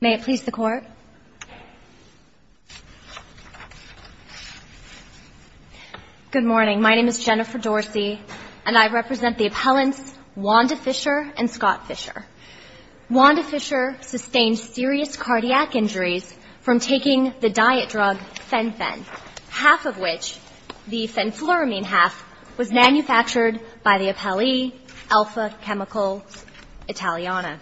May it please the court. Good morning, my name is Jennifer Dorsey and I represent the appellants Wanda Fisher and Scott Fisher. Wanda Fisher sustained serious cardiac injuries from taking the diet drug Fen-Phen, half of which, the fenfluramine half, was manufactured by the appellee Alfa Chemicals Italiana.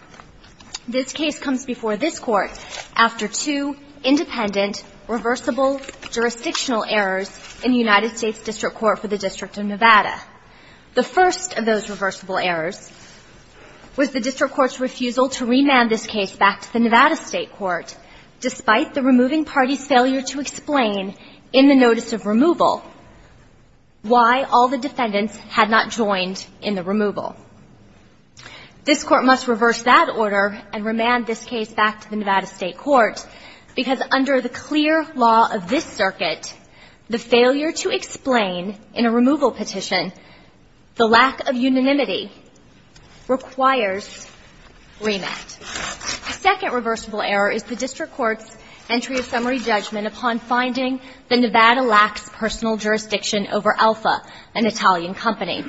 This case comes before this court after two independent reversible jurisdictional errors in the United States District Court for the District of Nevada. The first of those reversible errors was the district court's refusal to remand this case back to the Nevada State Court despite the removing party's failure to explain in the notice of removal why all the defendants had not joined in the removal. This court must reverse that order and remand this case back to the Nevada State Court because under the clear law of this circuit, the failure to explain in a removal petition, the lack of unanimity requires remand. The second reversible error is the district court's entry of summary judgment upon finding the Nevada lacks personal jurisdiction over Alfa, an Italian company.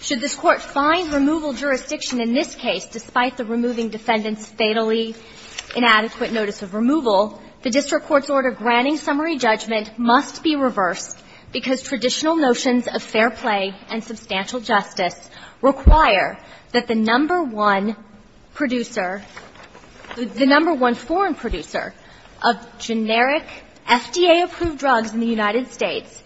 Should this court find removal jurisdiction in this case despite the removing defendants' fatally inadequate notice of removal, the district court's order granting summary judgment must be reversed because traditional notions of fair play and substantial justice require that the FDA-approved drugs in the United States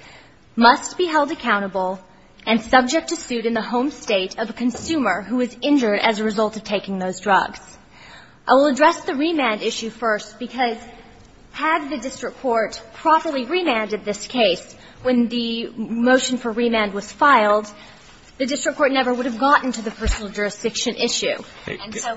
must be held accountable and subject to suit in the home state of a consumer who is injured as a result of taking those drugs. I will address the remand issue first, because had the district court properly remanded this case when the motion for remand was filed, the district court never would have gotten to the personal jurisdiction issue. And so ----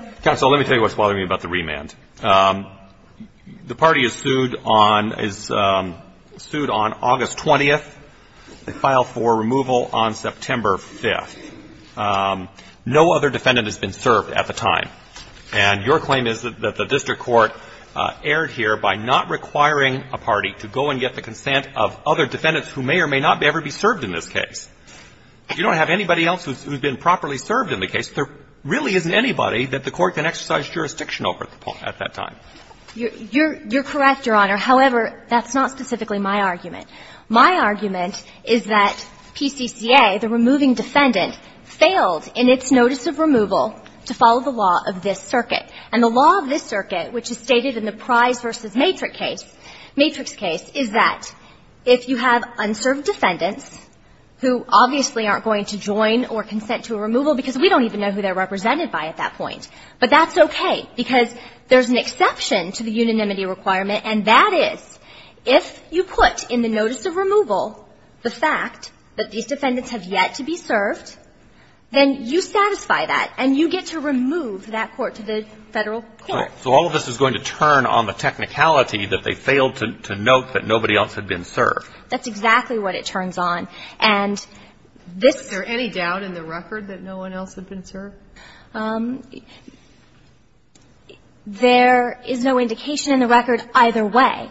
You're correct, Your Honor. However, that's not the case in this case. In this case, the district court is not required to go and get the consent of other defendants who may or may not be served in this case. You don't have anybody else who's been properly served in the case. There really isn't anybody that the court can exercise jurisdiction over at that time. You're correct, Your Honor. However, that's not the case in this case. Now, specifically, my argument. My argument is that PCCA, the removing defendant, failed in its notice of removal to follow the law of this circuit. And the law of this circuit, which is stated in the prize versus matrix case, matrix case, is that if you have unserved defendants who obviously aren't going to join or consent to a removal because we don't even know who they're represented by at that point, but that's okay, because there's an exception to the unanimity requirement, and that is if you put in the notice of removal the fact that these defendants have yet to be served, then you satisfy that, and you get to remove that court to the Federal court. So all of this is going to turn on the technicality that they failed to note that nobody else had been served. That's exactly what it turns on. And this ---- Is there any doubt in the record that no one else had been served? There is no indication in the record either way.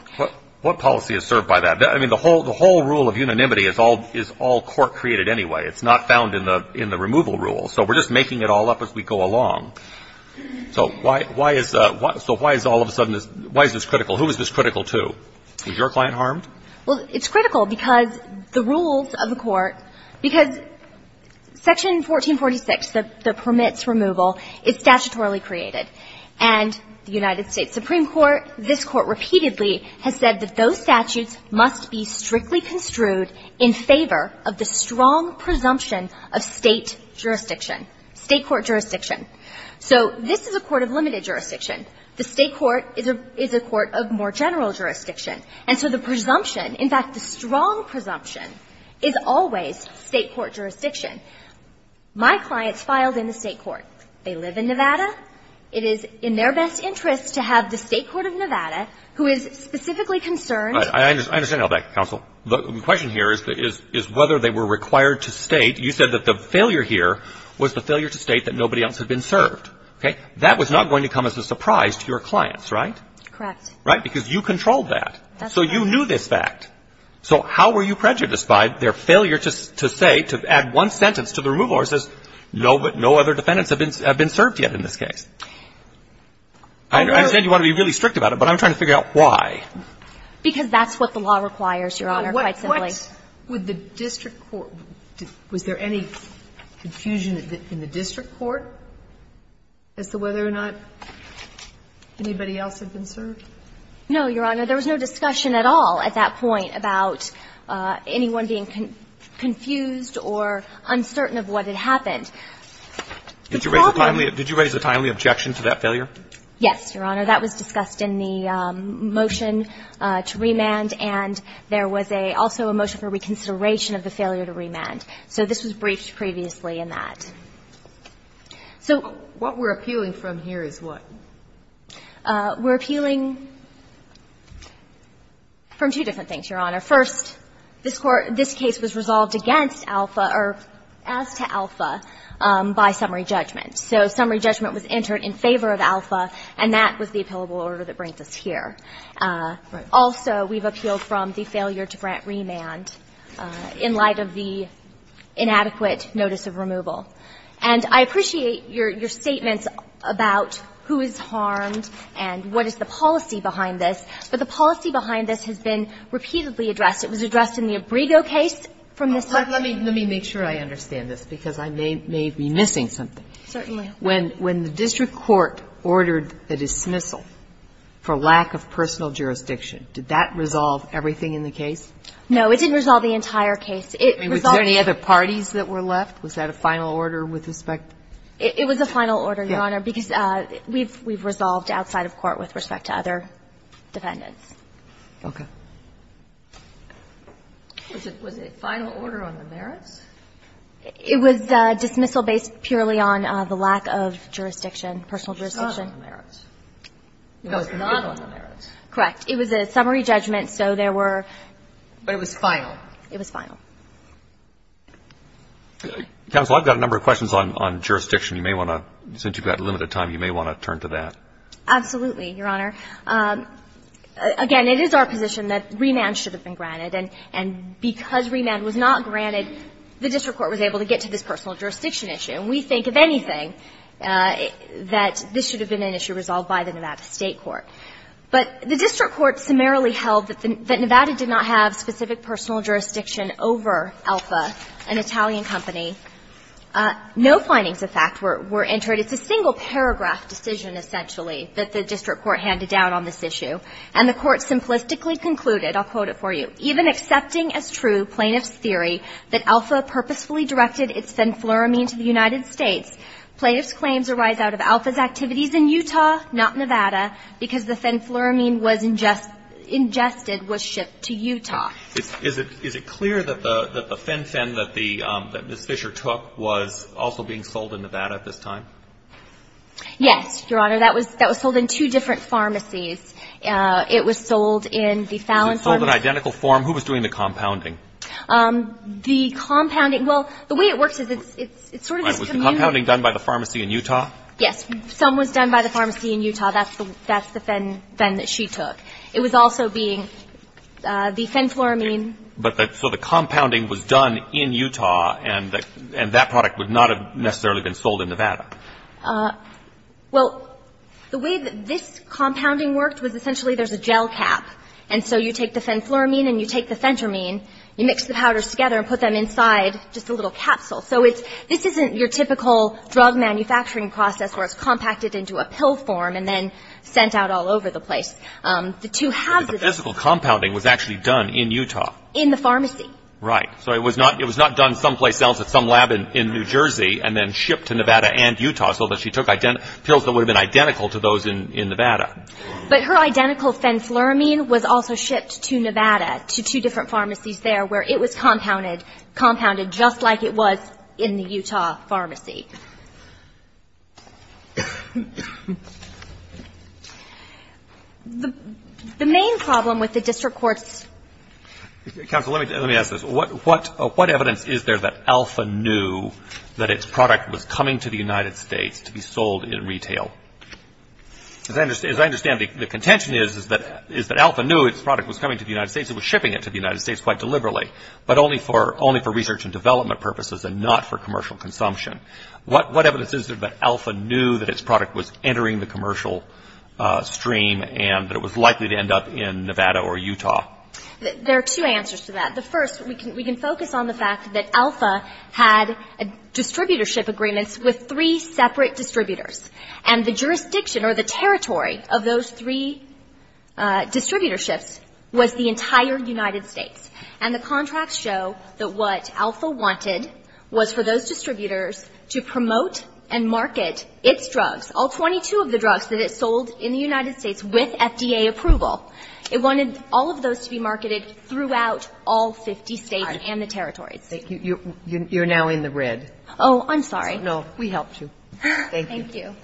What policy is served by that? I mean, the whole rule of unanimity is all court created anyway. It's not found in the removal rule. So we're just making it all up as we go along. So why is all of a sudden this ---- why is this critical? Who is this critical to? Was your client harmed? Well, it's critical because the rules of the court, because Section 1446, the promotion of the statute of limits removal, is statutorily created. And the United States Supreme Court, this Court repeatedly, has said that those statutes must be strictly construed in favor of the strong presumption of State jurisdiction, State court jurisdiction. So this is a court of limited jurisdiction. The State court is a court of more general jurisdiction. And so the presumption, in fact, the strong presumption, is always State court jurisdiction. My clients filed in the State court. They live in Nevada. It is in their best interest to have the State court of Nevada, who is specifically concerned I understand all that, counsel. The question here is whether they were required to state, you said that the failure here was the failure to state that nobody else had been served. Okay? That was not going to come as a surprise to your clients, right? Correct. Right? Because you controlled that. So you knew this fact. So how were you prejudiced by their failure to say, to add one sentence to the removal where it says, no other defendants have been served yet in this case? I understand you want to be really strict about it, but I'm trying to figure out why. Because that's what the law requires, Your Honor, quite simply. What would the district court do? Was there any confusion in the district court as to whether or not anybody else had been served? No, Your Honor. There was no discussion at all at that point about anyone being confused or uncertain of what had happened. Did you raise a timely objection to that failure? Yes, Your Honor. That was discussed in the motion to remand, and there was a also a motion for reconsideration of the failure to remand. So this was briefed previously in that. So what we're appealing from here is what? We're appealing from two different things, Your Honor. First, this Court – this case was resolved against Alpha or as to Alpha by summary judgment. So summary judgment was entered in favor of Alpha, and that was the appealable order that brings us here. Right. Also, we've appealed from the failure to grant remand in light of the inadequate notice of removal. And I appreciate your statements about who is harmed and what is the policy behind this, but the policy behind this has been repeatedly addressed. It was addressed in the Abrego case from this time. Let me make sure I understand this, because I may be missing something. Certainly. When the district court ordered a dismissal for lack of personal jurisdiction, did that resolve everything in the case? No, it didn't resolve the entire case. I mean, was there any other parties that were left? Was that a final order with respect to the court? It was a final order, Your Honor, because we've resolved outside of court with respect to other defendants. Okay. Was it a final order on the merits? It was a dismissal based purely on the lack of jurisdiction, personal jurisdiction. It was not on the merits. It was not on the merits. Correct. It was a summary judgment, so there were – But it was final. It was final. Counsel, I've got a number of questions on jurisdiction. You may want to – since you've got limited time, you may want to turn to that. Absolutely, Your Honor. Again, it is our position that remand should have been granted, and because remand was not granted, the district court was able to get to this personal jurisdiction issue. And we think, if anything, that this should have been an issue resolved by the Nevada State court. But the district court summarily held that Nevada did not have specific personal jurisdiction over Alpha, an Italian company. No findings of fact were entered. It's a single-paragraph decision, essentially, that the district court handed down on this issue. And the court simplistically concluded, I'll quote it for you, "...even accepting as true plaintiff's theory that Alpha purposefully directed its fenfluramine to the United States, plaintiff's claims arise out of Alpha's activities in Utah, not Nevada, because the fenfluramine was ingested was shipped to Utah." Is it clear that the Fen-Phen that the Ms. Fisher took was also being sold in Nevada at this time? Yes, Your Honor. That was sold in two different pharmacies. It was sold in the Fallon pharmacy. Was it sold in identical form? Who was doing the compounding? The compounding – well, the way it works is it's sort of this community. Was the compounding done by the pharmacy in Utah? Yes. Some was done by the pharmacy in Utah. That's the Fen-Phen that she took. It was also being – the fenfluramine – So the compounding was done in Utah and that product would not have necessarily been sold in Nevada? Well, the way that this compounding worked was essentially there's a gel cap. And so you take the fenfluramine and you take the fentermine, you mix the powders together and put them inside just a little capsule. So this isn't your typical drug manufacturing process where it's compacted into a pill form and then sent out all over the place. The two halves of it – But the physical compounding was actually done in Utah? In the pharmacy. Right. So it was not done someplace else at some lab in New Jersey and then shipped to Nevada and Utah so that she took pills that would have been identical to those in Nevada. But her identical fenfluramine was also shipped to Nevada to two different pharmacies there where it was compounded just like it was in the Utah pharmacy. The main problem with the district court's – Counsel, let me ask this. What evidence is there that Alpha knew that its product was coming to the United States to be sold in retail? As I understand it, the contention is that Alpha knew its product was coming to the United States. It was shipping it to the United States quite deliberately, but only for research and development purposes and not for commercial consumption. What evidence is there that Alpha knew that its product was entering the commercial stream and that it was likely to end up in Nevada or Utah? There are two answers to that. The first, we can focus on the fact that Alpha had distributorship agreements with three separate distributors. And the jurisdiction or the territory of those three distributorships was the entire United States. And the contracts show that what Alpha wanted was for those distributors to promote and market its drugs, all 22 of the drugs that it sold in the United States with FDA approval. It wanted all of those to be marketed throughout all 50 states and the territories. Thank you. You're now in the red. Oh, I'm sorry. No. We helped you. Thank you. Thank you.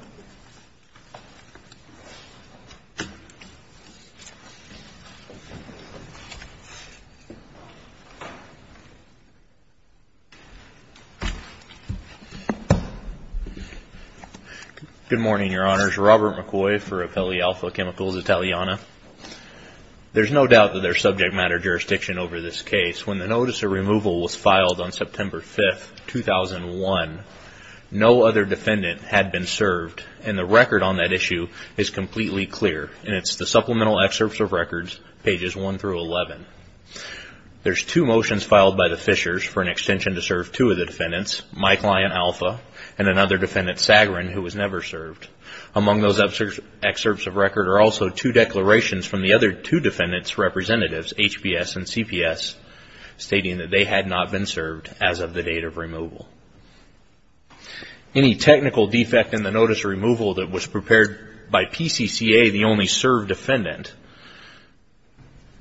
Good morning, Your Honors. Robert McCoy for Appellee Alpha Chemicals Italiana. There's no doubt that there's subject matter jurisdiction over this case. When the notice of removal was filed on September 5th, 2001, no other defendant had been served. And the record on that issue is completely clear, and it's the Supplemental Excerpts of Records, pages 1 through 11. There's two motions filed by the Fishers for an extension to serve two of the defendants, my client, Alpha, and another defendant, Sagarin, who was never served. Among those excerpts of record are also two declarations from the other two defendants' representatives, HBS and CPS, stating that they had not been served as of the date of removal. Any technical defect in the notice of removal that was prepared by PCCA, the only served defendant,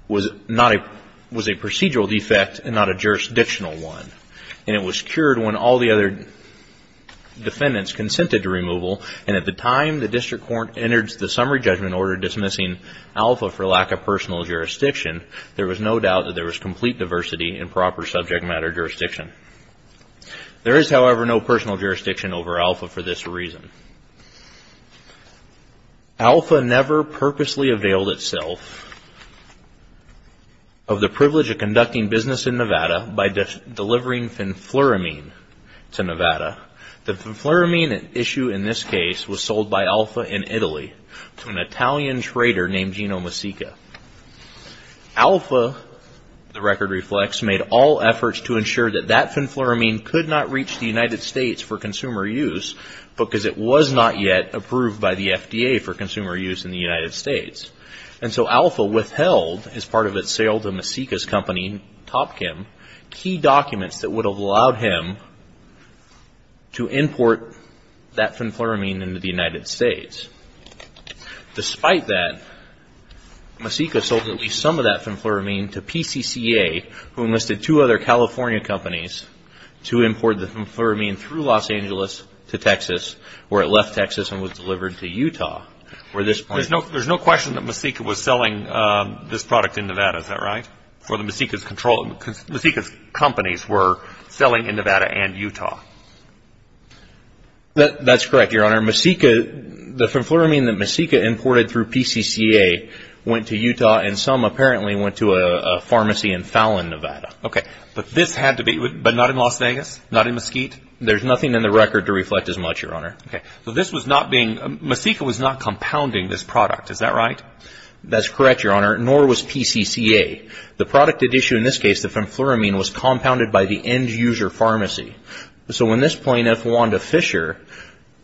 was a procedural defect and not a jurisdictional one. And it was cured when all the other defendants consented to removal. And at the time, the district court entered the summary judgment order dismissing Alpha for lack of personal jurisdiction, there was no doubt that there was complete diversity in proper subject matter jurisdiction. There is, however, no personal jurisdiction over Alpha for this reason. Alpha never purposely availed itself of the privilege of conducting business in Nevada by delivering fenfluramine to Nevada. The fenfluramine issue in this case was sold by Alpha in Italy to an Italian trader named Gino Masica. Alpha, the record reflects, made all efforts to ensure that that fenfluramine could not reach the United States for consumer use because it was not yet approved by the FDA for consumer use in the United States. And so Alpha withheld, as part of its sale to Masica's company, Top Kim, key documents that would have allowed him to import that fenfluramine into the United States. Despite that, Masica sold at least some of that fenfluramine to PCCA, who enlisted two other California companies to import the fenfluramine through Los Angeles to Texas, where it left Texas and was delivered to Utah, where this point... There's no question that Masica was selling this product in Nevada, is that right? For the Masica's control... Masica's companies were selling in Nevada and Utah. That's correct, Your Honor. Your Honor, Masica... The fenfluramine that Masica imported through PCCA went to Utah and some apparently went to a pharmacy in Fallon, Nevada. Okay. But this had to be... But not in Las Vegas? Not in Mesquite? There's nothing in the record to reflect as much, Your Honor. Okay. So this was not being... Masica was not compounding this product, is that right? That's correct, Your Honor. Nor was PCCA. The product at issue in this case, the fenfluramine, was compounded by the end-user pharmacy. So when this plaintiff, Wanda Fisher,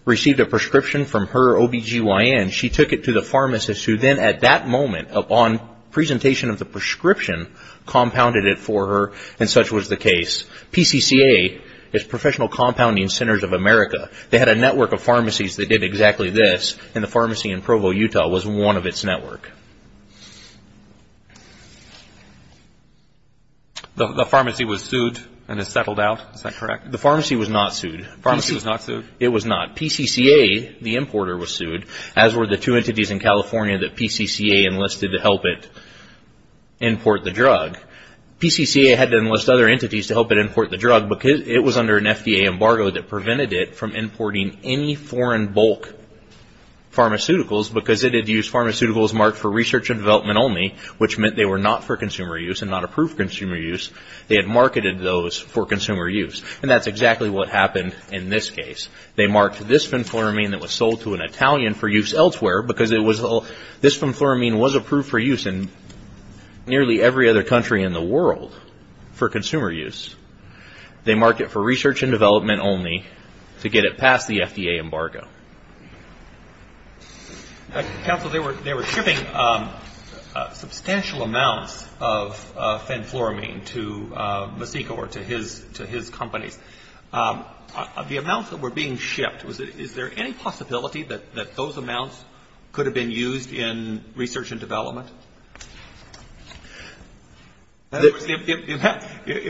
received a prescription from her OB-GYN, she took it to the pharmacist who then at that moment, upon presentation of the prescription, compounded it for her and such was the case. PCCA is Professional Compounding Centers of America. They had a network of pharmacies that did exactly this and the pharmacy in Provo, Utah, was one of its network. Okay. The pharmacy was sued and is settled out, is that correct? The pharmacy was not sued. The pharmacy was not sued? It was not. PCCA, the importer, was sued, as were the two entities in California that PCCA enlisted to help it import the drug. PCCA had to enlist other entities to help it import the drug because it was under an FDA embargo that prevented it from importing any foreign bulk pharmaceuticals because it did use pharmaceuticals marked for research and development only, which meant they were not for consumer use and not approved for consumer use. They had marketed those for consumer use and that's exactly what happened in this case. They marked this fenfluramine that was sold to an Italian for use elsewhere because this fenfluramine was approved for use in nearly every other country in the world for consumer use. They marked it for research and development only to get it past the FDA embargo. Counsel, they were shipping substantial amounts of fenfluramine to Masico or to his companies. Of the amounts that were being shipped, is there any possibility that those amounts could have been used for R&D purposes?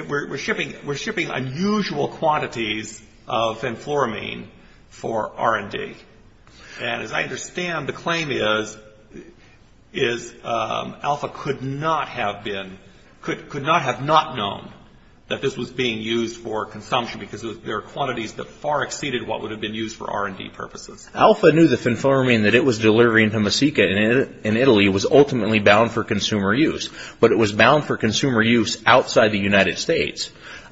We're shipping unusual quantities of fenfluramine for R&D. And as I understand, the claim is Alpha could not have been, could not have not known that this was being used for consumption because there are quantities that far exceeded what would have been used for R&D purposes. Alpha knew the fenfluramine that it was delivering to Masico in Italy was ultimately bound for consumer use, but it was bound for consumer use outside the United States.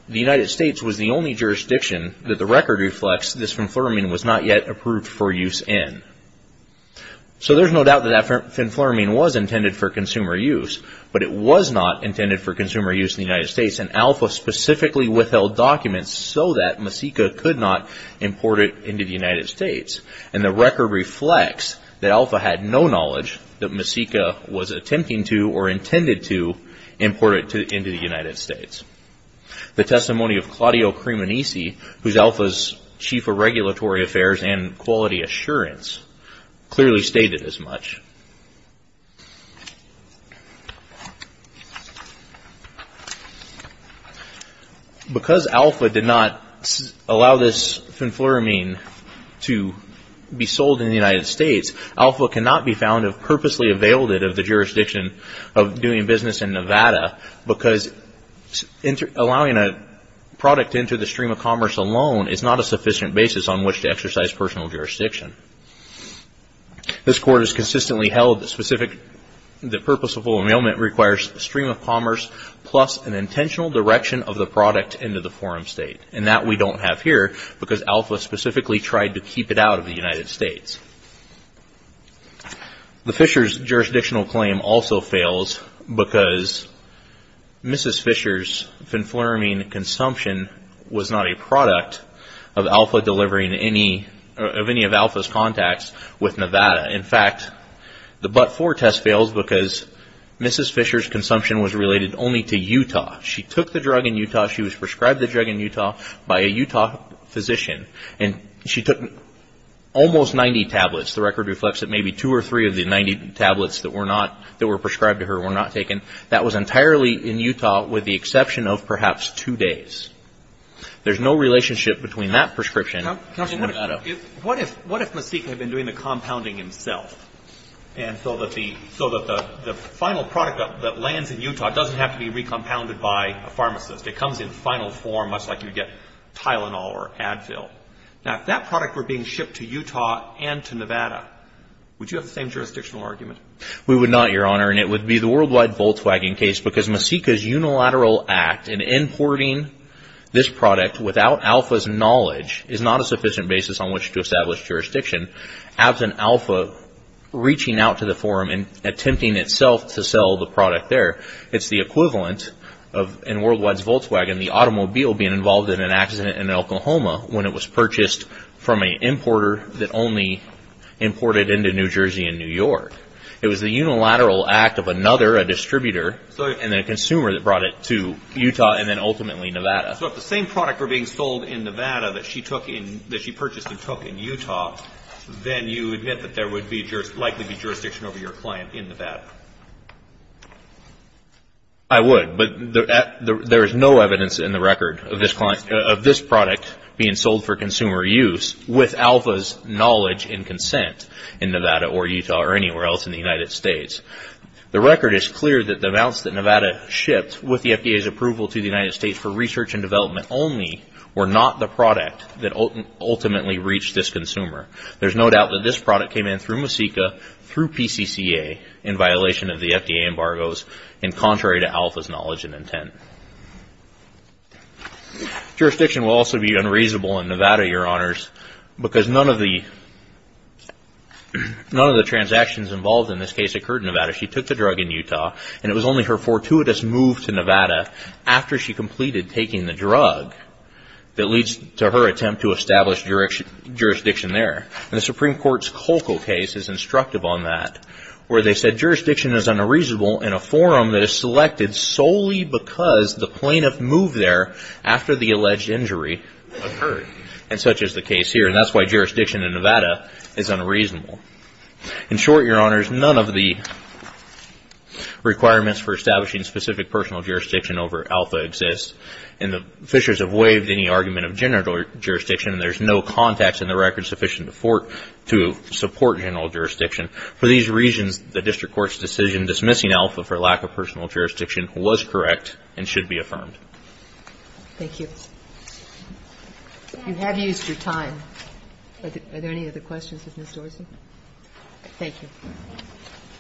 The United States was the only jurisdiction that the record reflects this fenfluramine was not yet approved for use in. So there's no doubt that that fenfluramine was intended for consumer use, but it was not intended for consumer use in the United States and Alpha specifically withheld documents so that Masico could not import it into the United States. And the record reflects that Alpha had no knowledge that Masico was attempting to or intended to import it into the United States. The testimony of Claudio Crimonisi, who's Alpha's Chief of Regulatory Affairs and Quality Assurance, clearly stated as much. Because Alpha did not allow this fenfluramine to be sold in the United States, Alpha cannot be found to have purposely availed it of the jurisdiction of doing business in Nevada because allowing a product into the stream of commerce alone is not a sufficient basis on which to exercise personal jurisdiction. This Court has consistently held that purposeful availment requires a stream of commerce plus an intentional direction of the product into the forum state and that we don't have here because Alpha specifically tried to keep it out of the United States. The Fishers jurisdictional claim also fails because Mrs. Fishers' fenfluramine consumption was not a product of Alpha delivering any of Alpha's contacts with Nevada. In fact, the but-for test fails because Mrs. Fishers' consumption was related only to Utah. She took the drug in Utah, she was prescribed the drug in Utah by a Utah physician and she took almost 90 tablets. The record reflects that maybe two or three of the 90 tablets that were prescribed to her were not taken. That was entirely in Utah with the exception of perhaps two days. There's no relationship between that prescription and Nevada. What if Mesique had been doing the compounding himself and so that the final product that lands in Utah doesn't have to be recompounded by a pharmacist? It comes in final form much like you get Tylenol or Advil. Now, if that product were being shipped to Utah and to Nevada, would you have the same jurisdictional argument? We would not, Your Honor, and it would be the Worldwide Volkswagen case because Mesique's unilateral act in importing this product without Alpha's knowledge is not a sufficient basis on which to establish jurisdiction. As an Alpha reaching out to the forum and attempting itself to sell the product there, it's the equivalent of in Worldwide's Volkswagen, the automobile being involved in an accident in Oklahoma when it was purchased from an importer that only imported into New Jersey and New York. It was the unilateral act of another, a distributor, and then a consumer that brought it to Utah and then ultimately Nevada. So if the same product were being sold in Nevada that she purchased and took in Utah, then you admit that there would likely be jurisdiction over your client in Nevada? I would, but there is no evidence in the record of this product being sold for consumer use with Alpha's knowledge and consent in Nevada or Utah or anywhere else in the United States. The record is clear that the amounts that Nevada shipped with the FDA's approval to the United States for research and development only were not the product that ultimately reached this consumer. There's no doubt that this product came in through Mesique through PCCA in violation of the FDA embargoes and contrary to Alpha's knowledge and intent. Jurisdiction will also be unreasonable in Nevada, Your Honors, because none of the transactions involved in this case occurred in Nevada. She took the drug in Utah and it was only her fortuitous move to Nevada after she completed taking the drug that leads to her attempt to establish jurisdiction there. And the Supreme Court's Colco case is instructive on that where they said, in a forum that is selected solely because the plaintiff moved there after the alleged injury occurred. And such is the case here. And that's why jurisdiction in Nevada is unreasonable. In short, Your Honors, none of the requirements for establishing specific personal jurisdiction over Alpha exists. And the fishers have waived any argument of general jurisdiction. There's no context in the record sufficient to support general jurisdiction. For these reasons, the district court's decision dismissing Alpha for lack of personal jurisdiction was correct and should be affirmed. Thank you. You have used your time. Are there any other questions of Ms. Dorsey? Thank you.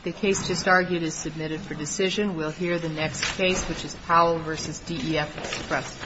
The case just argued is submitted for decision. We'll hear the next case, which is Powell v. DEF Press.